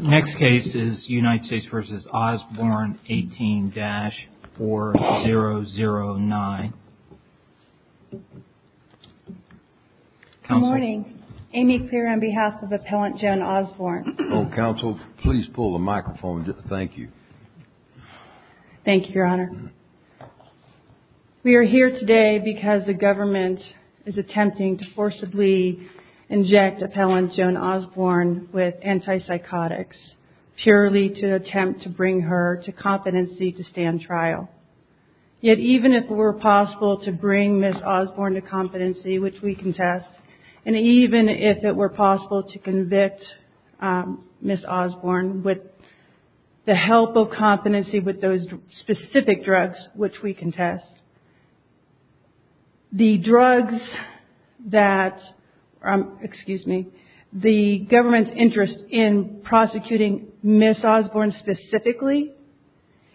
Next case is United States v. Osborn, 18-4009. Good morning. Amy Clear on behalf of Appellant Jen Osborn. Counsel, please pull the microphone. Thank you. Thank you, Your Honor. We are here today because the government is attempting to forcibly inject Appellant Jen Osborn with antipsychotics purely to attempt to bring her to competency to stand trial. Yet even if it were possible to bring Ms. Osborn to competency, which we contest, and even if it were possible to convict Ms. Osborn with the help of competency with those specific drugs which we contest, the government's interest in prosecuting Ms. Osborn specifically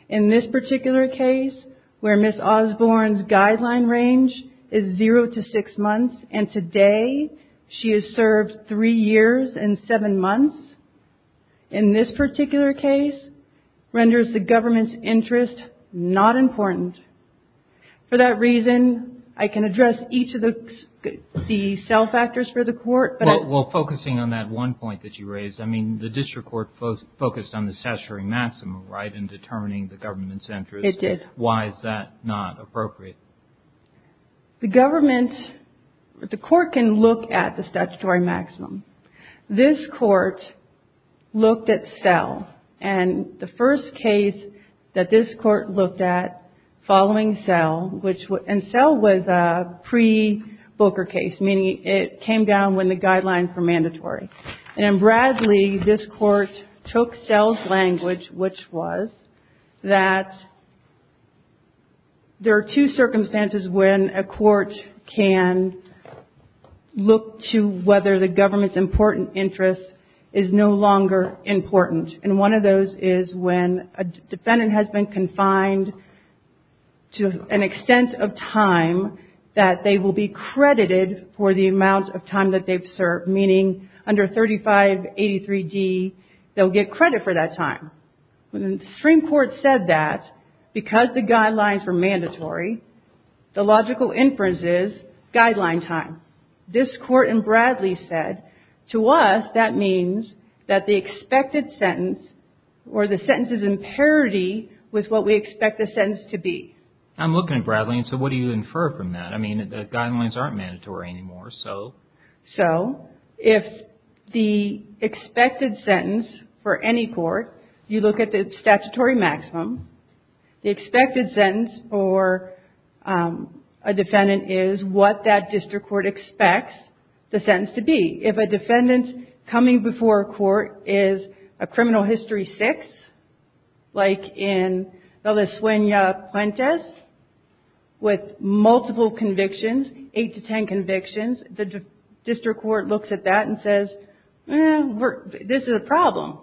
in this particular case where Ms. Osborn's guideline range is zero to six months, and today she is served three years and seven months, in this particular case renders the government's interest not important. For that reason, I can address each of the cell factors for the court. Well, focusing on that one point that you raised, I mean, the district court focused on the statutory maximum, right, in determining the government's interest. It did. Why is that not appropriate? The government, the court can look at the statutory maximum. This court looked at cell, and the first case that this court looked at following cell, and cell was a pre-Booker case, meaning it came down when the guidelines were mandatory. And in Bradley, this court took cell's language, which was that there are two circumstances when a court can look to whether the government's important interest is no longer important, and one of those is when a defendant has been confined to an extent of time that they will be credited for the amount of time that they've served, meaning under 3583D, they'll get credit for that time. When the Supreme Court said that, because the guidelines were mandatory, the logical inference is guideline time. This court in Bradley said, to us, that means that the expected sentence, or the sentence is in parity with what we expect the sentence to be. I'm looking at Bradley, and so what do you infer from that? I mean, the guidelines aren't mandatory anymore, so. So, if the expected sentence for any court, you look at the statutory maximum, the expected sentence for a defendant is what that district court expects the sentence to be. If a defendant coming before a court is a criminal history 6, like in Valdesuena-Puentes, with multiple convictions, 8 to 10 convictions, the district court looks at that and says, eh, this is a problem.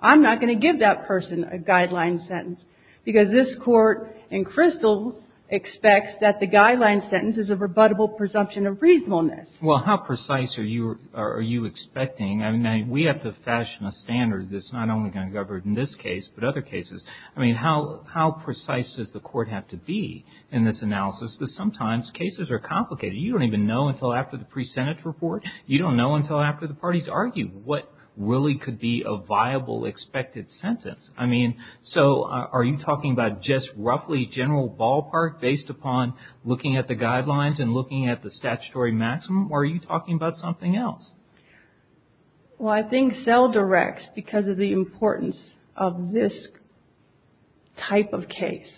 I'm not going to give that person a guideline sentence, because this court in Crystal expects that the guideline sentence is a rebuttable presumption of reasonableness. Well, how precise are you expecting? I mean, we have to fashion a standard that's not only going to govern in this case, but other cases. I mean, how precise does the court have to be in this analysis? Because sometimes cases are complicated. You don't even know until after the pre-Senate report. You don't know until after the parties argue what really could be a viable expected sentence. I mean, so are you talking about just roughly general ballpark, based upon looking at the guidelines and looking at the statutory maximum, or are you talking about something else? Well, I think CEL directs, because of the importance of this type of case,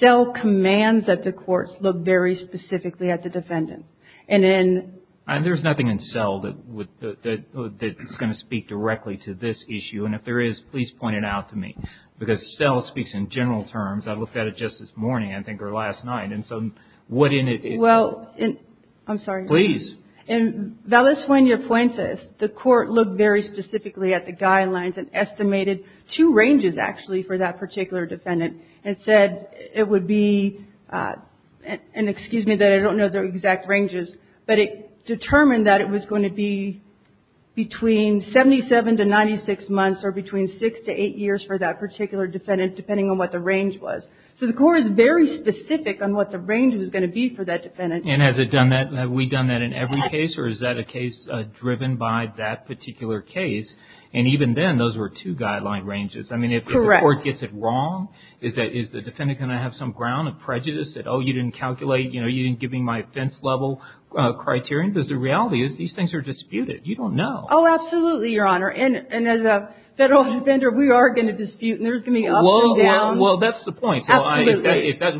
CEL commands that the courts look very specifically at the defendant. And then – And there's nothing in CEL that's going to speak directly to this issue. And if there is, please point it out to me. Because CEL speaks in general terms. I looked at it just this morning, I think, or last night. And so what in it is – Well, I'm sorry. Please. In Valles-Fuentes, the court looked very specifically at the guidelines and estimated two ranges, actually, for that particular defendant, and said it would be – and excuse me that I don't know the exact ranges, but it determined that it was going to be between 77 to 96 months or between six to eight years for that particular defendant, depending on what the range was. So the court is very specific on what the range was going to be for that defendant. And has it done that? Have we done that in every case, or is that a case driven by that particular case? And even then, those were two guideline ranges. Correct. I mean, if the court gets it wrong, is the defendant going to have some ground of prejudice, that, oh, you didn't calculate, you know, you didn't give me my offense-level criterion? You don't know. Oh, absolutely, Your Honor. And as a federal defender, we are going to dispute, and there's going to be ups and downs. Well, that's the point. Absolutely.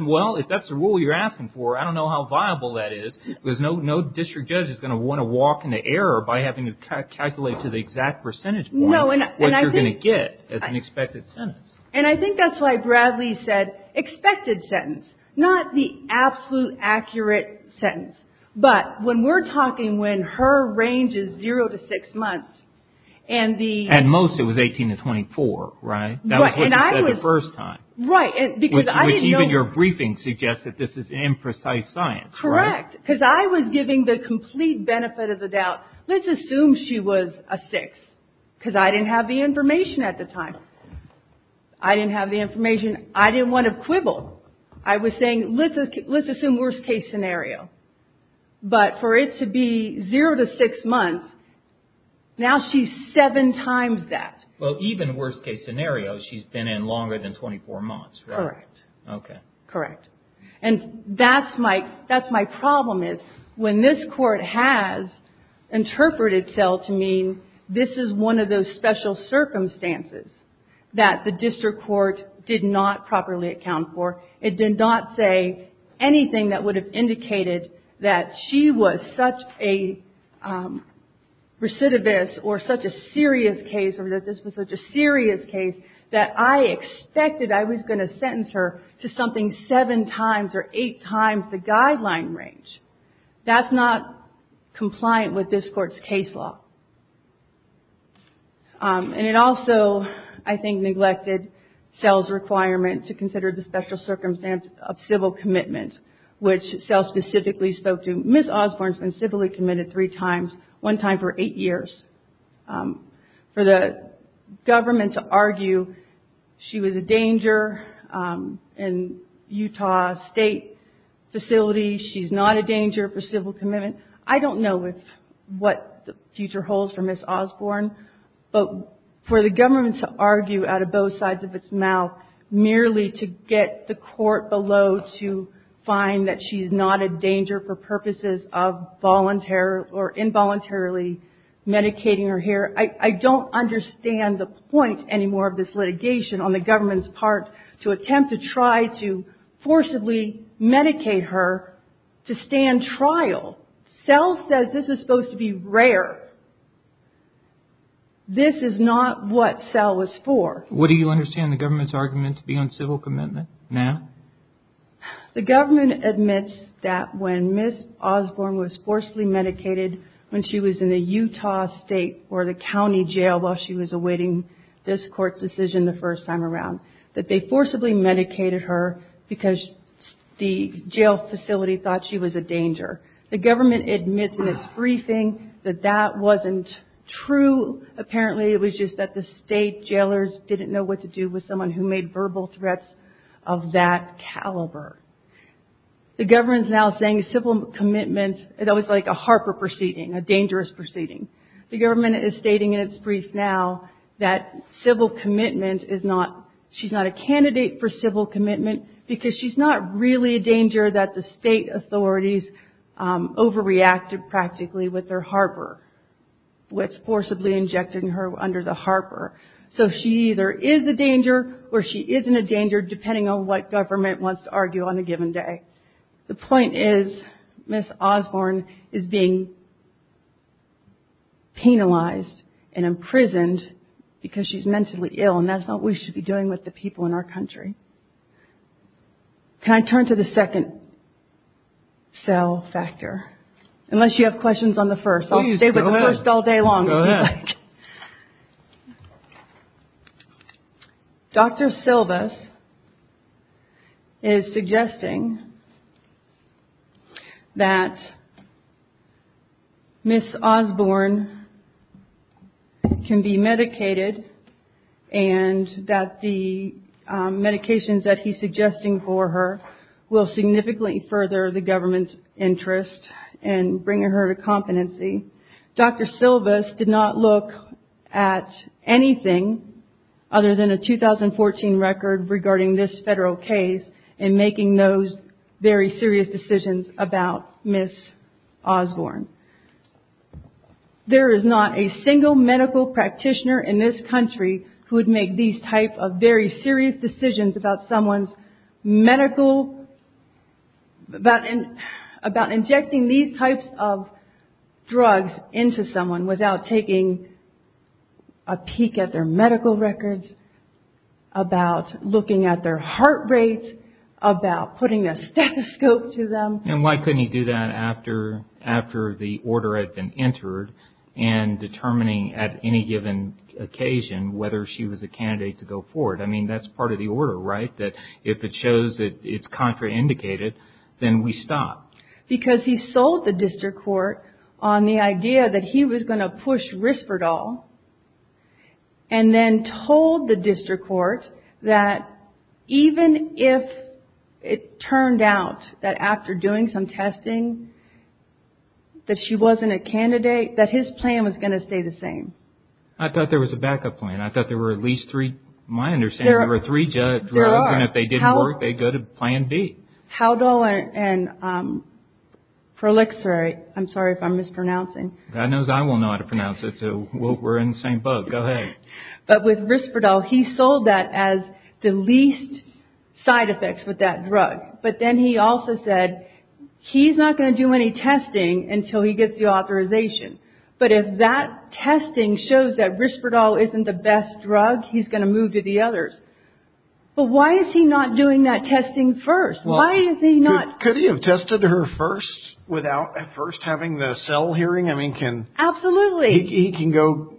Well, if that's the rule you're asking for, I don't know how viable that is, because no district judge is going to want to walk into error by having to calculate to the exact percentage point what you're going to get as an expected sentence. And I think that's why Bradley said expected sentence, not the absolute accurate sentence. But when we're talking when her range is zero to six months, and the – At most, it was 18 to 24, right? Right. That was what you said the first time. Right. Because I didn't know – Which even your briefing suggests that this is imprecise science, right? Correct. Because I was giving the complete benefit of the doubt. Let's assume she was a six, because I didn't have the information at the time. I didn't have the information. I didn't want to quibble. I was saying, let's assume worst-case scenario. But for it to be zero to six months, now she's seven times that. Well, even worst-case scenario, she's been in longer than 24 months, right? Correct. Okay. Correct. And that's my problem, is when this Court has interpreted cell to mean this is one of those special circumstances that the district court did not properly account for. It did not say anything that would have indicated that she was such a recidivist, or such a serious case, or that this was such a serious case, that I expected I was going to sentence her to something seven times or eight times the guideline range. That's not compliant with this Court's case law. And it also, I think, neglected cell's requirement to consider the special circumstance of civil commitment, which cell specifically spoke to. Ms. Osborne's been civilly committed three times, one time for eight years. For the government to argue she was a danger in Utah State facilities, she's not a danger for civil commitment, I don't know what the future holds for Ms. Osborne, but for the government to argue out of both sides of its mouth, merely to get the court below to find that she's not a danger for purposes of involuntarily medicating her here, I don't understand the point anymore of this litigation on the government's part to attempt to try to forcibly medicate her to stand trial. Cell says this is supposed to be rare. This is not what cell was for. What do you understand the government's argument to be on civil commitment now? The government admits that when Ms. Osborne was forcibly medicated when she was in the Utah State or the county jail while she was awaiting this Court's decision the first time around, that they forcibly medicated her because the jail facility thought she was a danger. The government admits in its briefing that that wasn't true. Apparently it was just that the state jailers didn't know what to do with someone who made verbal threats of that caliber. The government is now saying civil commitment, that was like a Harper proceeding, a dangerous proceeding. The government is stating in its brief now that civil commitment is not, she's not a candidate for civil commitment because she's not really a danger that the state authorities overreacted practically with their Harper, which forcibly injected her under the Harper. So she either is a danger or she isn't a danger, depending on what government wants to argue on a given day. The point is Ms. Osborne is being penalized and imprisoned because she's mentally ill and that's not what we should be doing with the people in our country. Can I turn to the second cell factor? Unless you have questions on the first. I'll stay with the first all day long if you'd like. Dr. Silvas is suggesting that Ms. Osborne can be medicated and that the medications that he's suggesting for her will significantly further the government's interest in bringing her to competency. Dr. Silvas did not look at anything other than a 2014 record regarding this federal case in making those very serious decisions about Ms. Osborne. There is not a single medical practitioner in this country who would make these type of very serious decisions about someone's medical, about injecting these types of drugs into someone without taking a peek at their medical records, about looking at their heart rates, about putting a stethoscope to them. And why couldn't he do that after the order had been entered and determining at any given occasion whether she was a candidate to go forward? I mean, that's part of the order, right? That if it shows that it's contraindicated, then we stop. Because he sold the district court on the idea that he was going to push Risperdal and then told the district court that even if it turned out that after doing some testing that she wasn't a candidate, that his plan was going to stay the same. I thought there was a backup plan. I thought there were at least three. My understanding is there were three drugs, and if they didn't work, they'd go to plan B. Haldol and prolixirate. I'm sorry if I'm mispronouncing. God knows I won't know how to pronounce it, so we're in the same boat. Go ahead. But with Risperdal, he sold that as the least side effects with that drug. But then he also said he's not going to do any testing until he gets the authorization. But if that testing shows that Risperdal isn't the best drug, he's going to move to the others. But why is he not doing that testing first? Could he have tested her first without at first having the cell hearing? Absolutely. He can go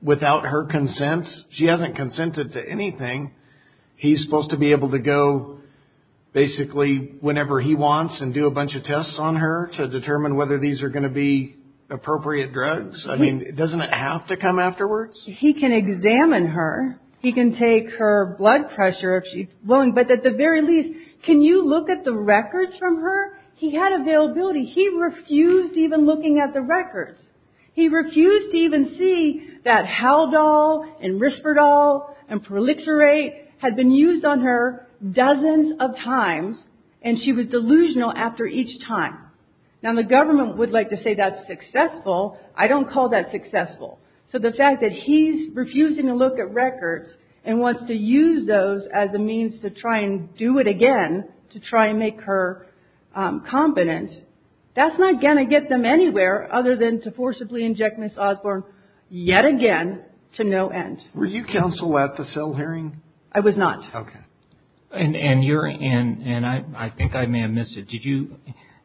without her consent. She hasn't consented to anything. He's supposed to be able to go basically whenever he wants and do a bunch of tests on her to determine whether these are going to be appropriate drugs. I mean, doesn't it have to come afterwards? He can examine her. He can take her blood pressure if she's willing. But at the very least, can you look at the records from her? He had availability. He refused even looking at the records. He refused to even see that Haldol and Risperdal and prolixirate had been used on her dozens of times, and she was delusional after each time. Now, the government would like to say that's successful. I don't call that successful. So the fact that he's refusing to look at records and wants to use those as a means to try and do it again, to try and make her competent, that's not going to get them anywhere other than to forcibly inject Ms. Osborne yet again to no end. Were you counsel at the cell hearing? I was not. Okay. And I think I may have missed it.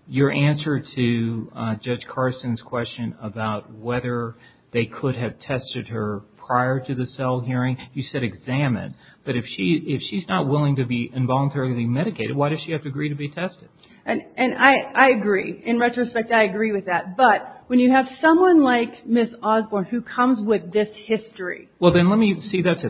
Your answer to Judge Carson's question about whether they could have tested her prior to the cell hearing, you said examine. But if she's not willing to be involuntarily medicated, why does she have to agree to be tested? And I agree. In retrospect, I agree with that. But when you have someone like Ms. Osborne who comes with this history. Well, then, let me see that. And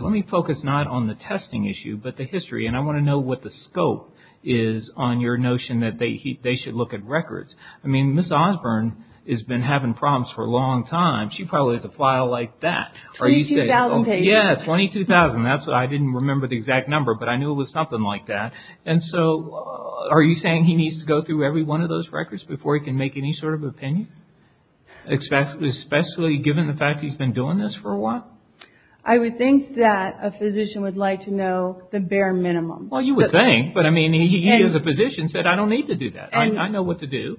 I want to know what the scope is on your notion that they should look at records. I mean, Ms. Osborne has been having problems for a long time. She probably has a file like that. 22,000 pages. Yes, 22,000. I didn't remember the exact number, but I knew it was something like that. And so are you saying he needs to go through every one of those records before he can make any sort of opinion, especially given the fact he's been doing this for a while? I would think that a physician would like to know the bare minimum. Well, you would think. But, I mean, he, as a physician, said, I don't need to do that. I know what to do.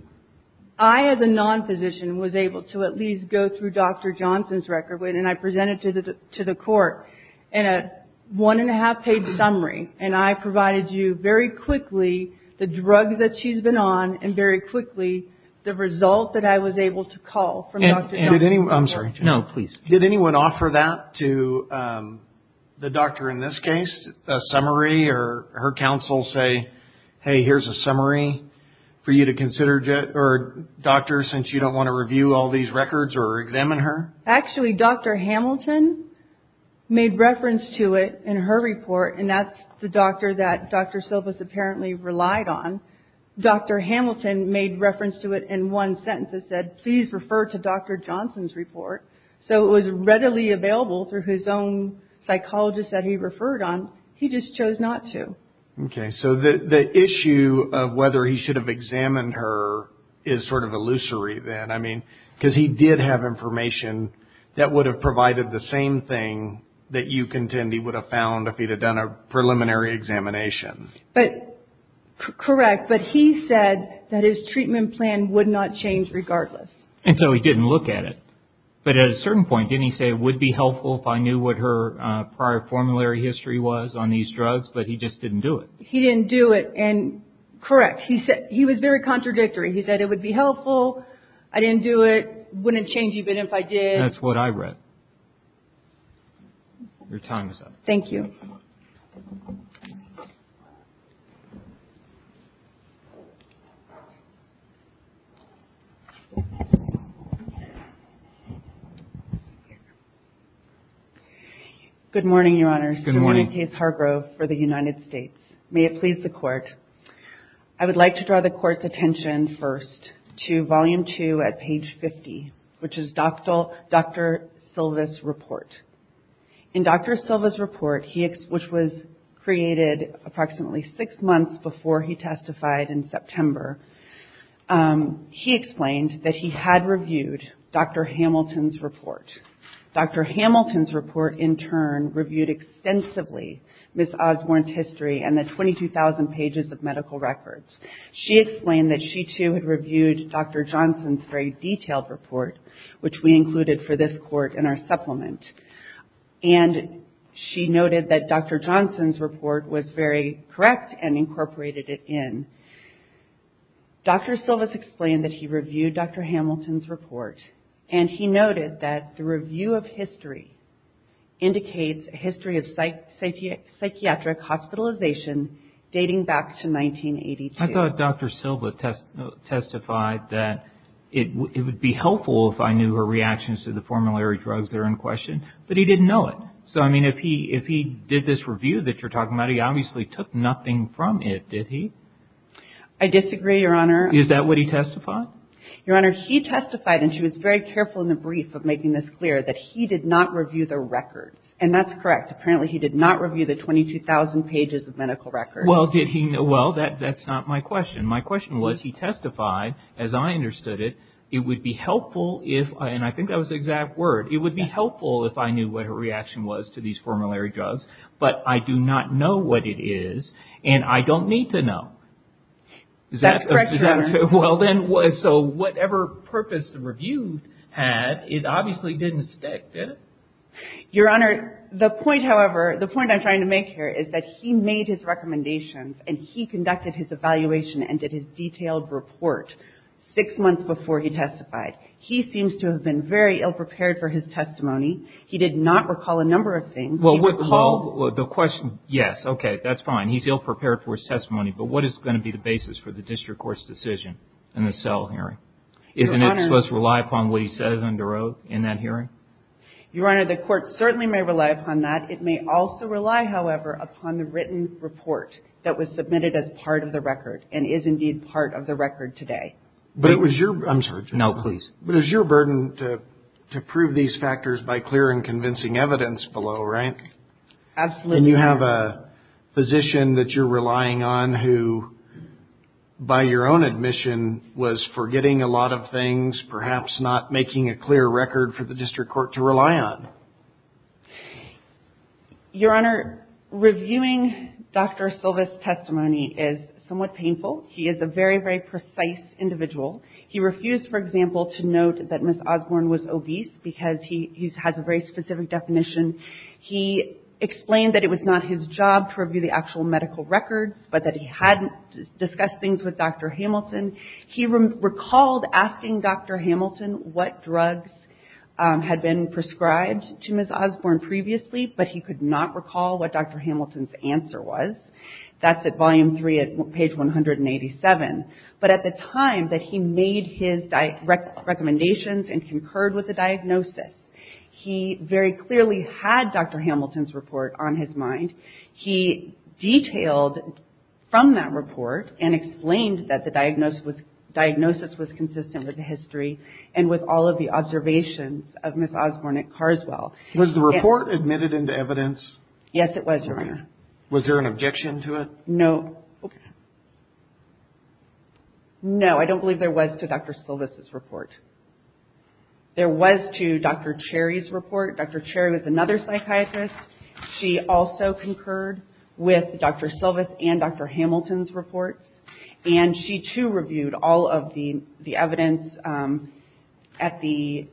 I, as a non-physician, was able to at least go through Dr. Johnson's record. And I presented it to the court in a one-and-a-half page summary. And I provided you very quickly the drugs that she's been on and very quickly the result that I was able to call from Dr. Johnson. I'm sorry. No, please. Did anyone offer that to the doctor in this case? A summary or her counsel say, hey, here's a summary for you to consider, or a doctor, since you don't want to review all these records or examine her? Actually, Dr. Hamilton made reference to it in her report. And that's the doctor that Dr. Silvas apparently relied on. Dr. Hamilton made reference to it in one sentence and said, please refer to Dr. Johnson's report. So it was readily available through his own psychologist that he referred on. He just chose not to. Okay. So the issue of whether he should have examined her is sort of illusory then. I mean, because he did have information that would have provided the same thing that you contend he would have found if he had done a preliminary examination. Correct. But he said that his treatment plan would not change regardless. And so he didn't look at it. But at a certain point, didn't he say it would be helpful if I knew what her prior formulary history was on these drugs, but he just didn't do it? He didn't do it. And correct, he was very contradictory. He said it would be helpful, I didn't do it, wouldn't change even if I did. That's what I read. Your time is up. Thank you. Good morning, Your Honors. Good morning. Simone Case Hargrove for the United States. May it please the Court. I would like to draw the Court's attention first to Volume 2 at page 50, which is Dr. Silva's report. In Dr. Silva's report, which was created approximately six months before he testified in September, he explained that he had reviewed Dr. Hamilton's report. Dr. Hamilton's report, in turn, reviewed extensively Ms. Osborne's history and the 22,000 pages of medical records. She explained that she, too, had reviewed Dr. Johnson's very detailed report, which we included for this Court in our supplement. And she noted that Dr. Johnson's report was very correct and incorporated it in. Dr. Silva's explained that he reviewed Dr. Hamilton's report, and he noted that the review of history indicates a history of psychiatric hospitalization dating back to 1982. I thought Dr. Silva testified that it would be helpful if I knew her reactions to the formulary drugs that are in question. But he didn't know it. So, I mean, if he did this review that you're talking about, he obviously took nothing from it, did he? I disagree, Your Honor. Is that what he testified? Your Honor, she testified, and she was very careful in the brief of making this clear, that he did not review the records. And that's correct. Apparently, he did not review the 22,000 pages of medical records. Well, did he? Well, that's not my question. My question was, he testified, as I understood it, it would be helpful if, and I think that was the exact word, it would be helpful if I knew what her reaction was to these formulary drugs. But I do not know what it is, and I don't need to know. That's correct, Your Honor. Well, then, so whatever purpose the review had, it obviously didn't stick, did it? Your Honor, the point, however, the point I'm trying to make here is that he made his recommendations, and he conducted his evaluation and did his detailed report six months before he testified. He seems to have been very ill-prepared for his testimony. He did not recall a number of things. Well, recall, the question, yes. Okay. That's fine. He's ill-prepared for his testimony. But what is going to be the basis for the district court's decision in the Sell hearing? Isn't it supposed to rely upon what he said under oath in that hearing? Your Honor, the court certainly may rely upon that. It may also rely, however, upon the written report that was submitted as part of the record, and is indeed part of the record today. But it was your – I'm sorry. No, please. But it was your burden to prove these factors by clear and convincing evidence below, right? Absolutely. And you have a physician that you're relying on who, by your own admission, was forgetting a lot of things, perhaps not making a clear record for the district court to rely on. Your Honor, reviewing Dr. Silva's testimony is somewhat painful. He is a very, very precise individual. He refused, for example, to note that Ms. Osborne was obese because he has a very specific definition. He explained that it was not his job to review the actual medical records, but that he had discussed things with Dr. Hamilton. He recalled asking Dr. Hamilton what drugs had been prescribed to Ms. Osborne previously, but he could not recall what Dr. Hamilton's answer was. That's at volume three at page 187. But at the time that he made his recommendations and concurred with the diagnosis, he very clearly had Dr. Hamilton's report on his mind. He detailed from that report and explained that the diagnosis was consistent with the history and with all of the observations of Ms. Osborne at Carswell. Was the report admitted into evidence? Yes, it was, Your Honor. Was there an objection to it? No. No, I don't believe there was to Dr. Silva's report. There was to Dr. Cherry's report. Dr. Cherry was another psychiatrist. She also concurred with Dr. Silva's and Dr. Hamilton's reports, and she, too, reviewed all of the evidence at the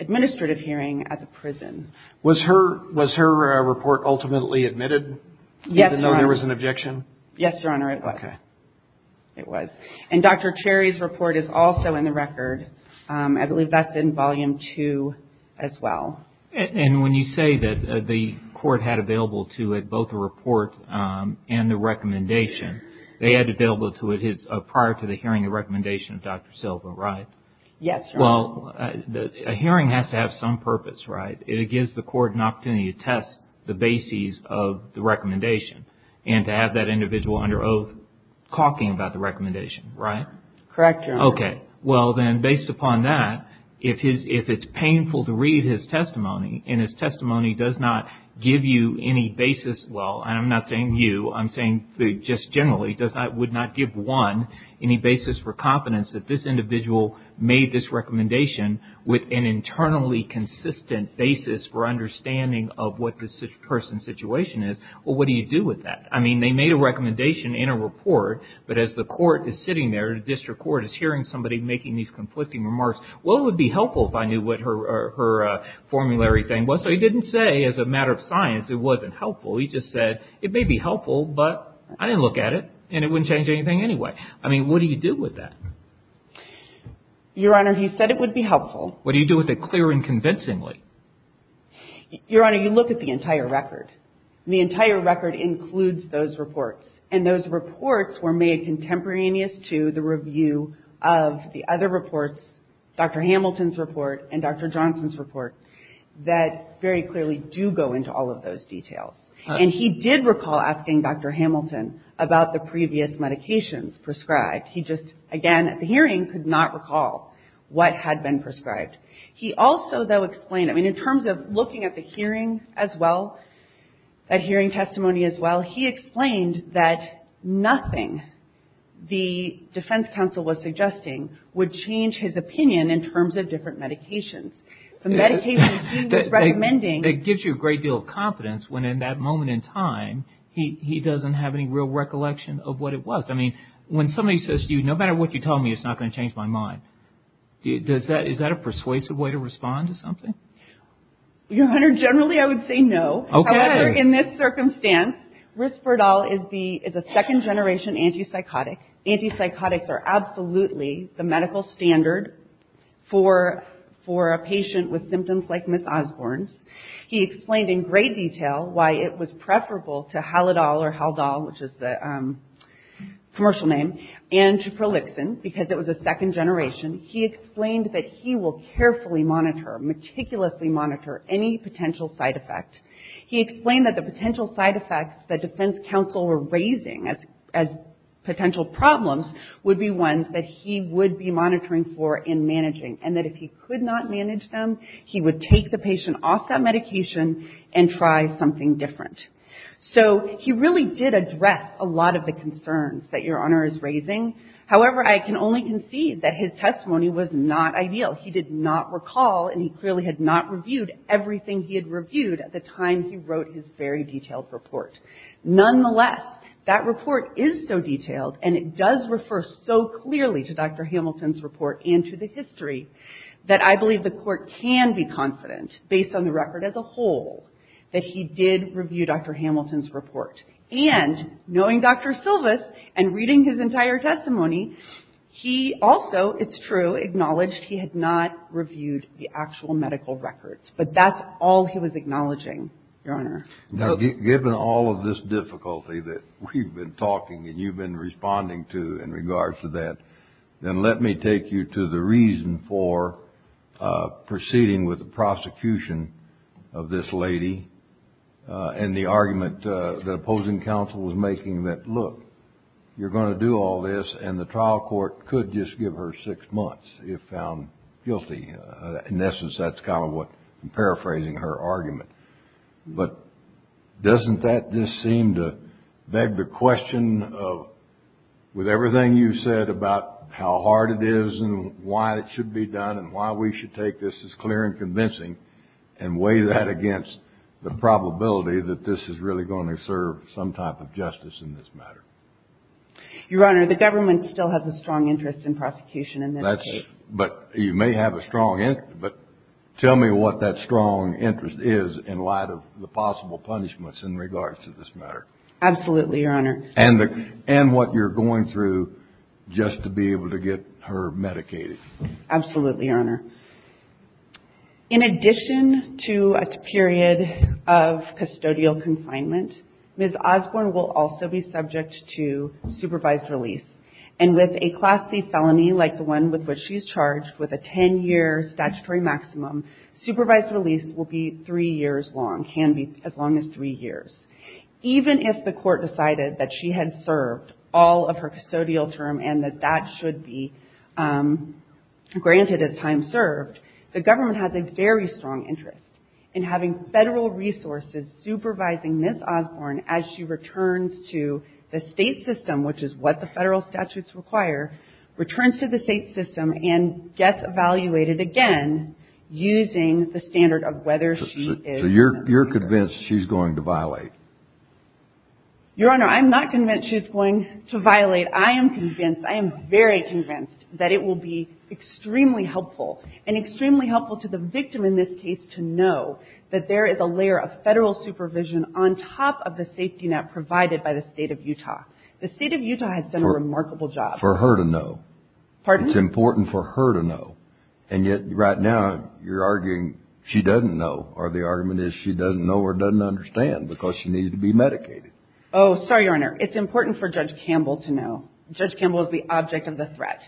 administrative hearing at the prison. Was her report ultimately admitted? Yes, Your Honor. Even though there was an objection? Yes, Your Honor, it was. Okay. It was. And Dr. Cherry's report is also in the record. I believe that's in volume two as well. And when you say that the court had available to it both the report and the recommendation, they had available to it prior to the hearing the recommendation of Dr. Silva, right? Yes, Your Honor. Well, a hearing has to have some purpose, right? It gives the court an opportunity to test the bases of the recommendation and to have that individual under oath talking about the recommendation, right? Correct, Your Honor. Okay. Well, then, based upon that, if it's painful to read his testimony and his testimony does not give you any basis, well, I'm not saying you, I'm saying just generally, would not give one any basis for confidence that this individual made this recommendation with an internally consistent basis for understanding of what this person's situation is, well, what do you do with that? I mean, they made a recommendation in a report, but as the court is sitting there, the district court is hearing somebody making these conflicting remarks, well, it would be helpful if I knew what her formulary thing was. So he didn't say as a matter of science it wasn't helpful. He just said it may be helpful, but I didn't look at it and it wouldn't change anything anyway. I mean, what do you do with that? Your Honor, he said it would be helpful. What do you do with it clear and convincingly? Your Honor, you look at the entire record. The entire record includes those reports. And those reports were made contemporaneous to the review of the other reports, Dr. Hamilton's report and Dr. Johnson's report, that very clearly do go into all of those details. And he did recall asking Dr. Hamilton about the previous medications prescribed. He just, again, at the hearing could not recall what had been prescribed. He also, though, explained, I mean, in terms of looking at the hearing as well, at hearing testimony as well, he explained that nothing the defense counsel was suggesting would change his opinion in terms of different medications. The medications he was recommending. It gives you a great deal of confidence when, in that moment in time, he doesn't have any real recollection of what it was. I mean, when somebody says to you, no matter what you tell me, it's not going to change my mind, is that a persuasive way to respond to something? Your Honor, generally I would say no. However, in this circumstance, Risperdal is a second generation antipsychotic. Antipsychotics are absolutely the medical standard for a patient with symptoms like Ms. Osborne's. He explained in great detail why it was preferable to Halidal or Haldol, which is the commercial name, and to Prolixin because it was a second generation. He explained that he will carefully monitor, meticulously monitor, any potential side effect. He explained that the potential side effects that defense counsel were raising as potential problems would be ones that he would be monitoring for and managing, and that if he could not manage them, he would take the patient off that medication and try something different. So he really did address a lot of the concerns that Your Honor is raising. However, I can only concede that his testimony was not ideal. He did not recall and he clearly had not reviewed everything he had reviewed at the time he wrote his very detailed report. Nonetheless, that report is so detailed and it does refer so clearly to Dr. Hamilton's report and to the history that I believe the Court can be confident, based on the record as a whole, that he did review Dr. Hamilton's report. And knowing Dr. Silvis and reading his entire testimony, he also, it's true, acknowledged he had not reviewed the actual medical records. But that's all he was acknowledging, Your Honor. Now, given all of this difficulty that we've been talking and you've been responding to in regards to that, then let me take you to the reason for proceeding with the prosecution of this lady and the argument that opposing counsel was making that, look, you're going to do all this and the trial court could just give her six months if found guilty. In essence, that's kind of what I'm paraphrasing her argument. But doesn't that just seem to beg the question of, with everything you've said about how hard it is and why it should be done and why we should take this as clear and convincing and weigh that against the probability that this is really going to serve some type of justice in this matter? Your Honor, the government still has a strong interest in prosecution in this case. But you may have a strong interest. But tell me what that strong interest is in light of the possible punishments in regards to this matter. Absolutely, Your Honor. And what you're going through just to be able to get her medicated. Absolutely, Your Honor. In addition to a period of custodial confinement, Ms. Osborne will also be subject to supervised release. And with a Class C felony like the one with which she's charged with a 10-year statutory maximum, supervised release will be three years long, can be as long as three years. Even if the court decided that she had served all of her custodial term and that that should be granted as time served, the government has a very strong interest in having Federal resources supervising Ms. Osborne as she returns to the State system, which is what the Federal statutes require, returns to the State system and gets evaluated again Are you convinced she's going to violate? Your Honor, I'm not convinced she's going to violate. I am convinced, I am very convinced that it will be extremely helpful and extremely helpful to the victim in this case to know that there is a layer of Federal supervision on top of the safety net provided by the State of Utah. The State of Utah has done a remarkable job. For her to know. Pardon? It's important for her to know. And yet right now you're arguing she doesn't know or the argument is she doesn't know or doesn't understand because she needs to be medicated. Oh, sorry, Your Honor. It's important for Judge Campbell to know. Judge Campbell is the object of the threat.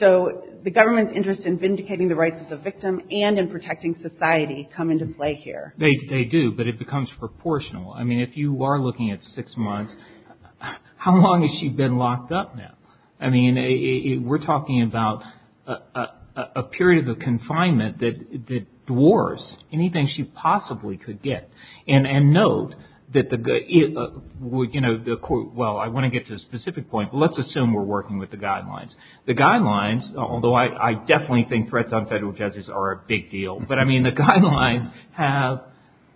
So the government's interest in vindicating the rights of the victim and in protecting society come into play here. They do, but it becomes proportional. I mean, if you are looking at six months, how long has she been locked up now? I mean, we're talking about a period of confinement that dwarfs anything she possibly could get. And note that the, well, I want to get to a specific point, but let's assume we're working with the guidelines. The guidelines, although I definitely think threats on Federal judges are a big deal, but I mean the guidelines have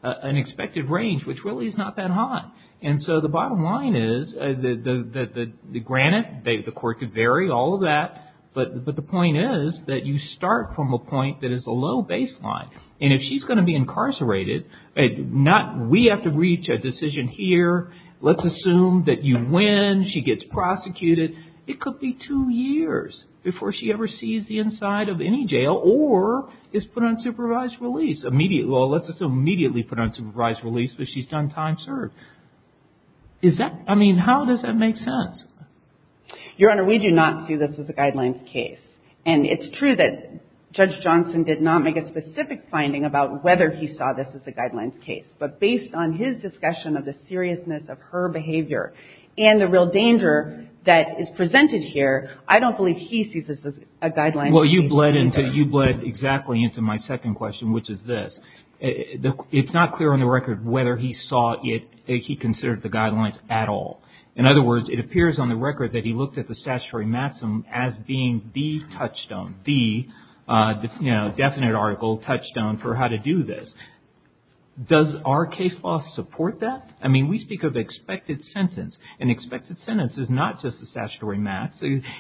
an expected range which really is not that high. And so the bottom line is that, granted, the court could vary, all of that, but the point is that you start from a point that is a low baseline. And if she's going to be incarcerated, we have to reach a decision here. Let's assume that you win. She gets prosecuted. It could be two years before she ever sees the inside of any jail or is put on supervised release. Well, let's just immediately put her on supervised release because she's done time served. Is that, I mean, how does that make sense? Your Honor, we do not see this as a guidelines case. And it's true that Judge Johnson did not make a specific finding about whether he saw this as a guidelines case. But based on his discussion of the seriousness of her behavior and the real danger that is presented here, I don't believe he sees this as a guidelines case. Well, you bled exactly into my second question, which is this. It's not clear on the record whether he considered the guidelines at all. In other words, it appears on the record that he looked at the statutory maxim as being the touchstone, the definite article, touchstone for how to do this. Does our case law support that? I mean, we speak of expected sentence. An expected sentence is not just a statutory max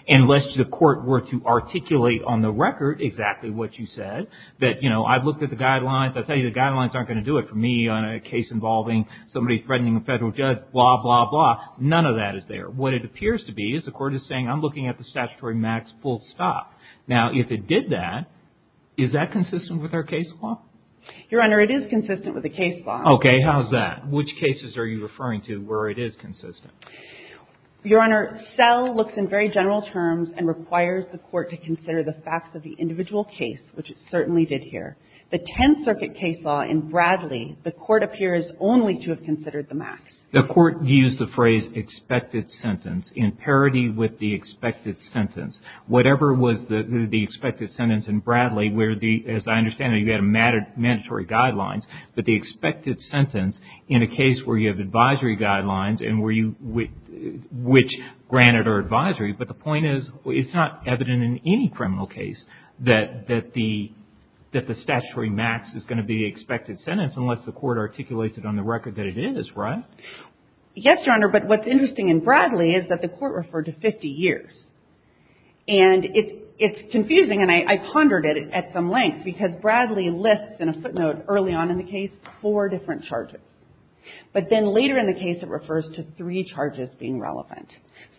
unless the court were to articulate on the record exactly what you said, that, you know, I've looked at the guidelines. I'll tell you the guidelines aren't going to do it for me on a case involving somebody threatening a federal judge, blah, blah, blah. None of that is there. What it appears to be is the court is saying I'm looking at the statutory max full stop. Now, if it did that, is that consistent with our case law? Your Honor, it is consistent with the case law. Okay. How's that? Which cases are you referring to where it is consistent? Your Honor, SELL looks in very general terms and requires the court to consider the facts of the individual case, which it certainly did here. The Tenth Circuit case law in Bradley, the court appears only to have considered the max. The court used the phrase expected sentence in parity with the expected sentence. Whatever was the expected sentence in Bradley, where the, as I understand it, you had mandatory guidelines, but the expected sentence in a case where you have advisory guidelines and where you, which granted are advisory, but the point is it's not evident in any criminal case that the statutory max is going to be the expected sentence unless the court articulates it on the record that it is, right? Yes, Your Honor, but what's interesting in Bradley is that the court referred to 50 years. And it's confusing, and I pondered it at some length, because Bradley lists in a footnote early on in the case four different charges. But then later in the case it refers to three charges being relevant.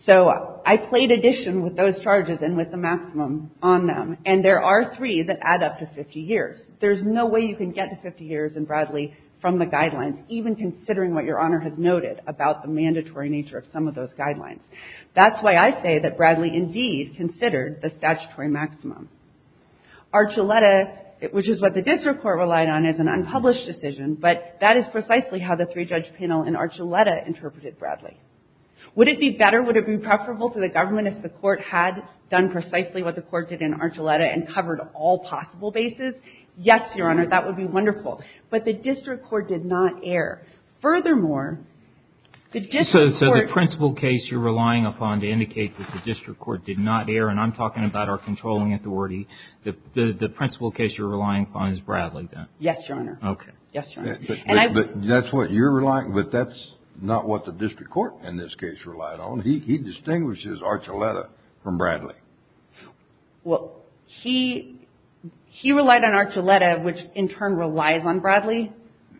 So I played addition with those charges and with the maximum on them, and there are three that add up to 50 years. There's no way you can get to 50 years in Bradley from the guidelines, even considering what Your Honor has noted about the mandatory nature of some of those guidelines. That's why I say that Bradley indeed considered the statutory maximum. Archuleta, which is what the district court relied on, is an unpublished decision, but that is precisely how the three-judge panel in Archuleta interpreted Bradley. Would it be better, would it be preferable to the government if the court had done precisely what the court did in Archuleta and covered all possible bases? Yes, Your Honor, that would be wonderful. But the district court did not err. Furthermore, the district court. So the principal case you're relying upon to indicate that the district court did not err, and I'm talking about our controlling authority, the principal case you're relying upon is Bradley then? Yes, Your Honor. Okay. Yes, Your Honor. But that's what you're relying, but that's not what the district court in this case relied on. He distinguishes Archuleta from Bradley. Well, he relied on Archuleta, which in turn relies on Bradley.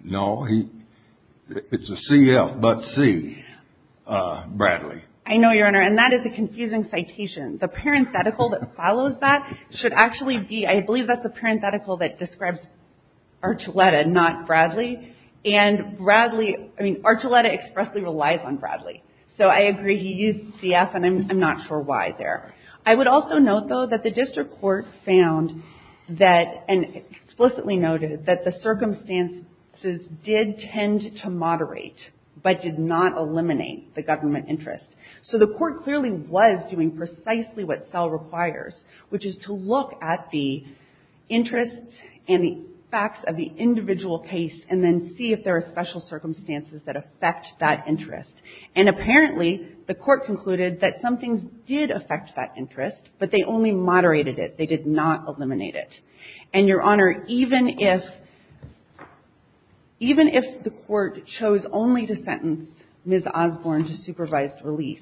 No. It's a CF, but C, Bradley. I know, Your Honor, and that is a confusing citation. The parenthetical that follows that should actually be, I believe that's a parenthetical that describes Archuleta, not Bradley. And Bradley, I mean, Archuleta expressly relies on Bradley. So I agree he used CF, and I'm not sure why there. I would also note, though, that the district court found that, and explicitly noted that the circumstances did tend to moderate, but did not eliminate the government interest. So the court clearly was doing precisely what Sell requires, which is to look at the interests and the facts of the individual case and then see if there are special circumstances that affect that interest. And apparently, the court concluded that some things did affect that interest, but they only moderated it. They did not eliminate it. And, Your Honor, even if the court chose only to sentence Ms. Osborne to supervised release,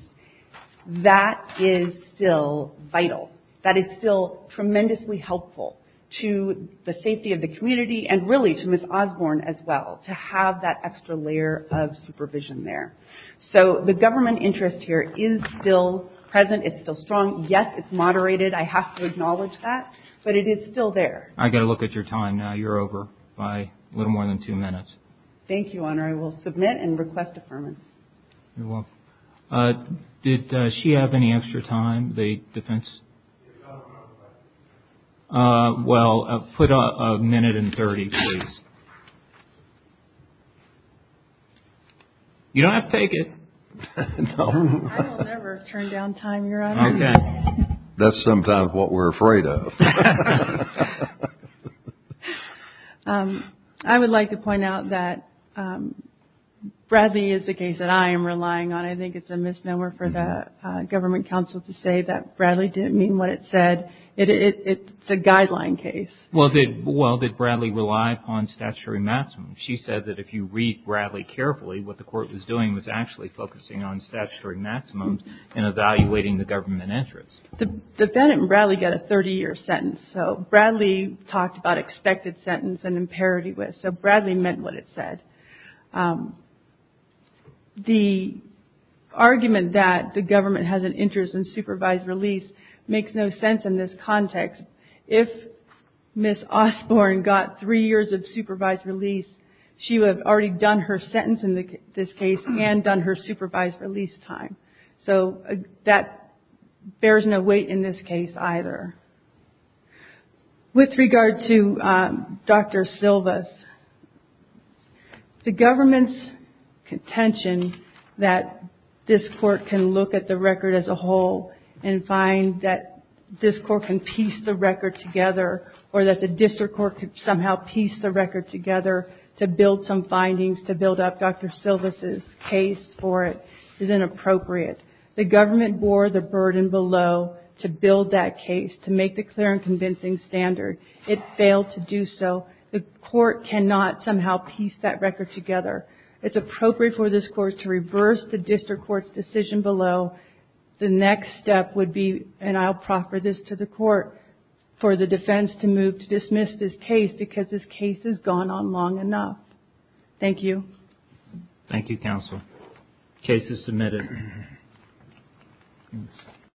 that is still vital. That is still tremendously helpful to the safety of the community and really to Ms. Osborne as well, to have that extra layer of supervision there. So the government interest here is still present. It's still strong. Yes, it's moderated. I have to acknowledge that. But it is still there. I've got to look at your time now. You're over by a little more than two minutes. Thank you, Your Honor. I will submit and request affirmance. You're welcome. Did she have any extra time, the defense? Your Honor, I don't have any extra time. Well, put a minute and 30, please. You don't have to take it. No. I will never turn down time, Your Honor. Okay. That's sometimes what we're afraid of. I would like to point out that Bradley is a case that I am relying on. I think it's a misnomer for the government counsel to say that Bradley didn't mean what it said. It's a guideline case. Well, did Bradley rely upon statutory maximums? She said that if you read Bradley carefully, what the court was doing was actually focusing on statutory The defendant and Bradley got a 30-year sentence. So Bradley talked about expected sentence and imparity. So Bradley meant what it said. The argument that the government has an interest in supervised release makes no sense in this context. If Ms. Osborne got three years of supervised release, she would have already done her sentence in this case and done her supervised release time. So that bears no weight in this case either. With regard to Dr. Silvas, the government's contention that this court can look at the record as a whole and find that this court can piece the record together or that the district court could somehow piece the record together to build some findings, to build up Dr. Silvas' case for it is inappropriate. The government bore the burden below to build that case, to make the clear and convincing standard. It failed to do so. The court cannot somehow piece that record together. It's appropriate for this court to reverse the district court's decision below. The next step would be, and I'll proffer this to the court, for the defense to move to dismiss this case because this case has gone on long enough. Thank you. Thank you, counsel. Case is submitted.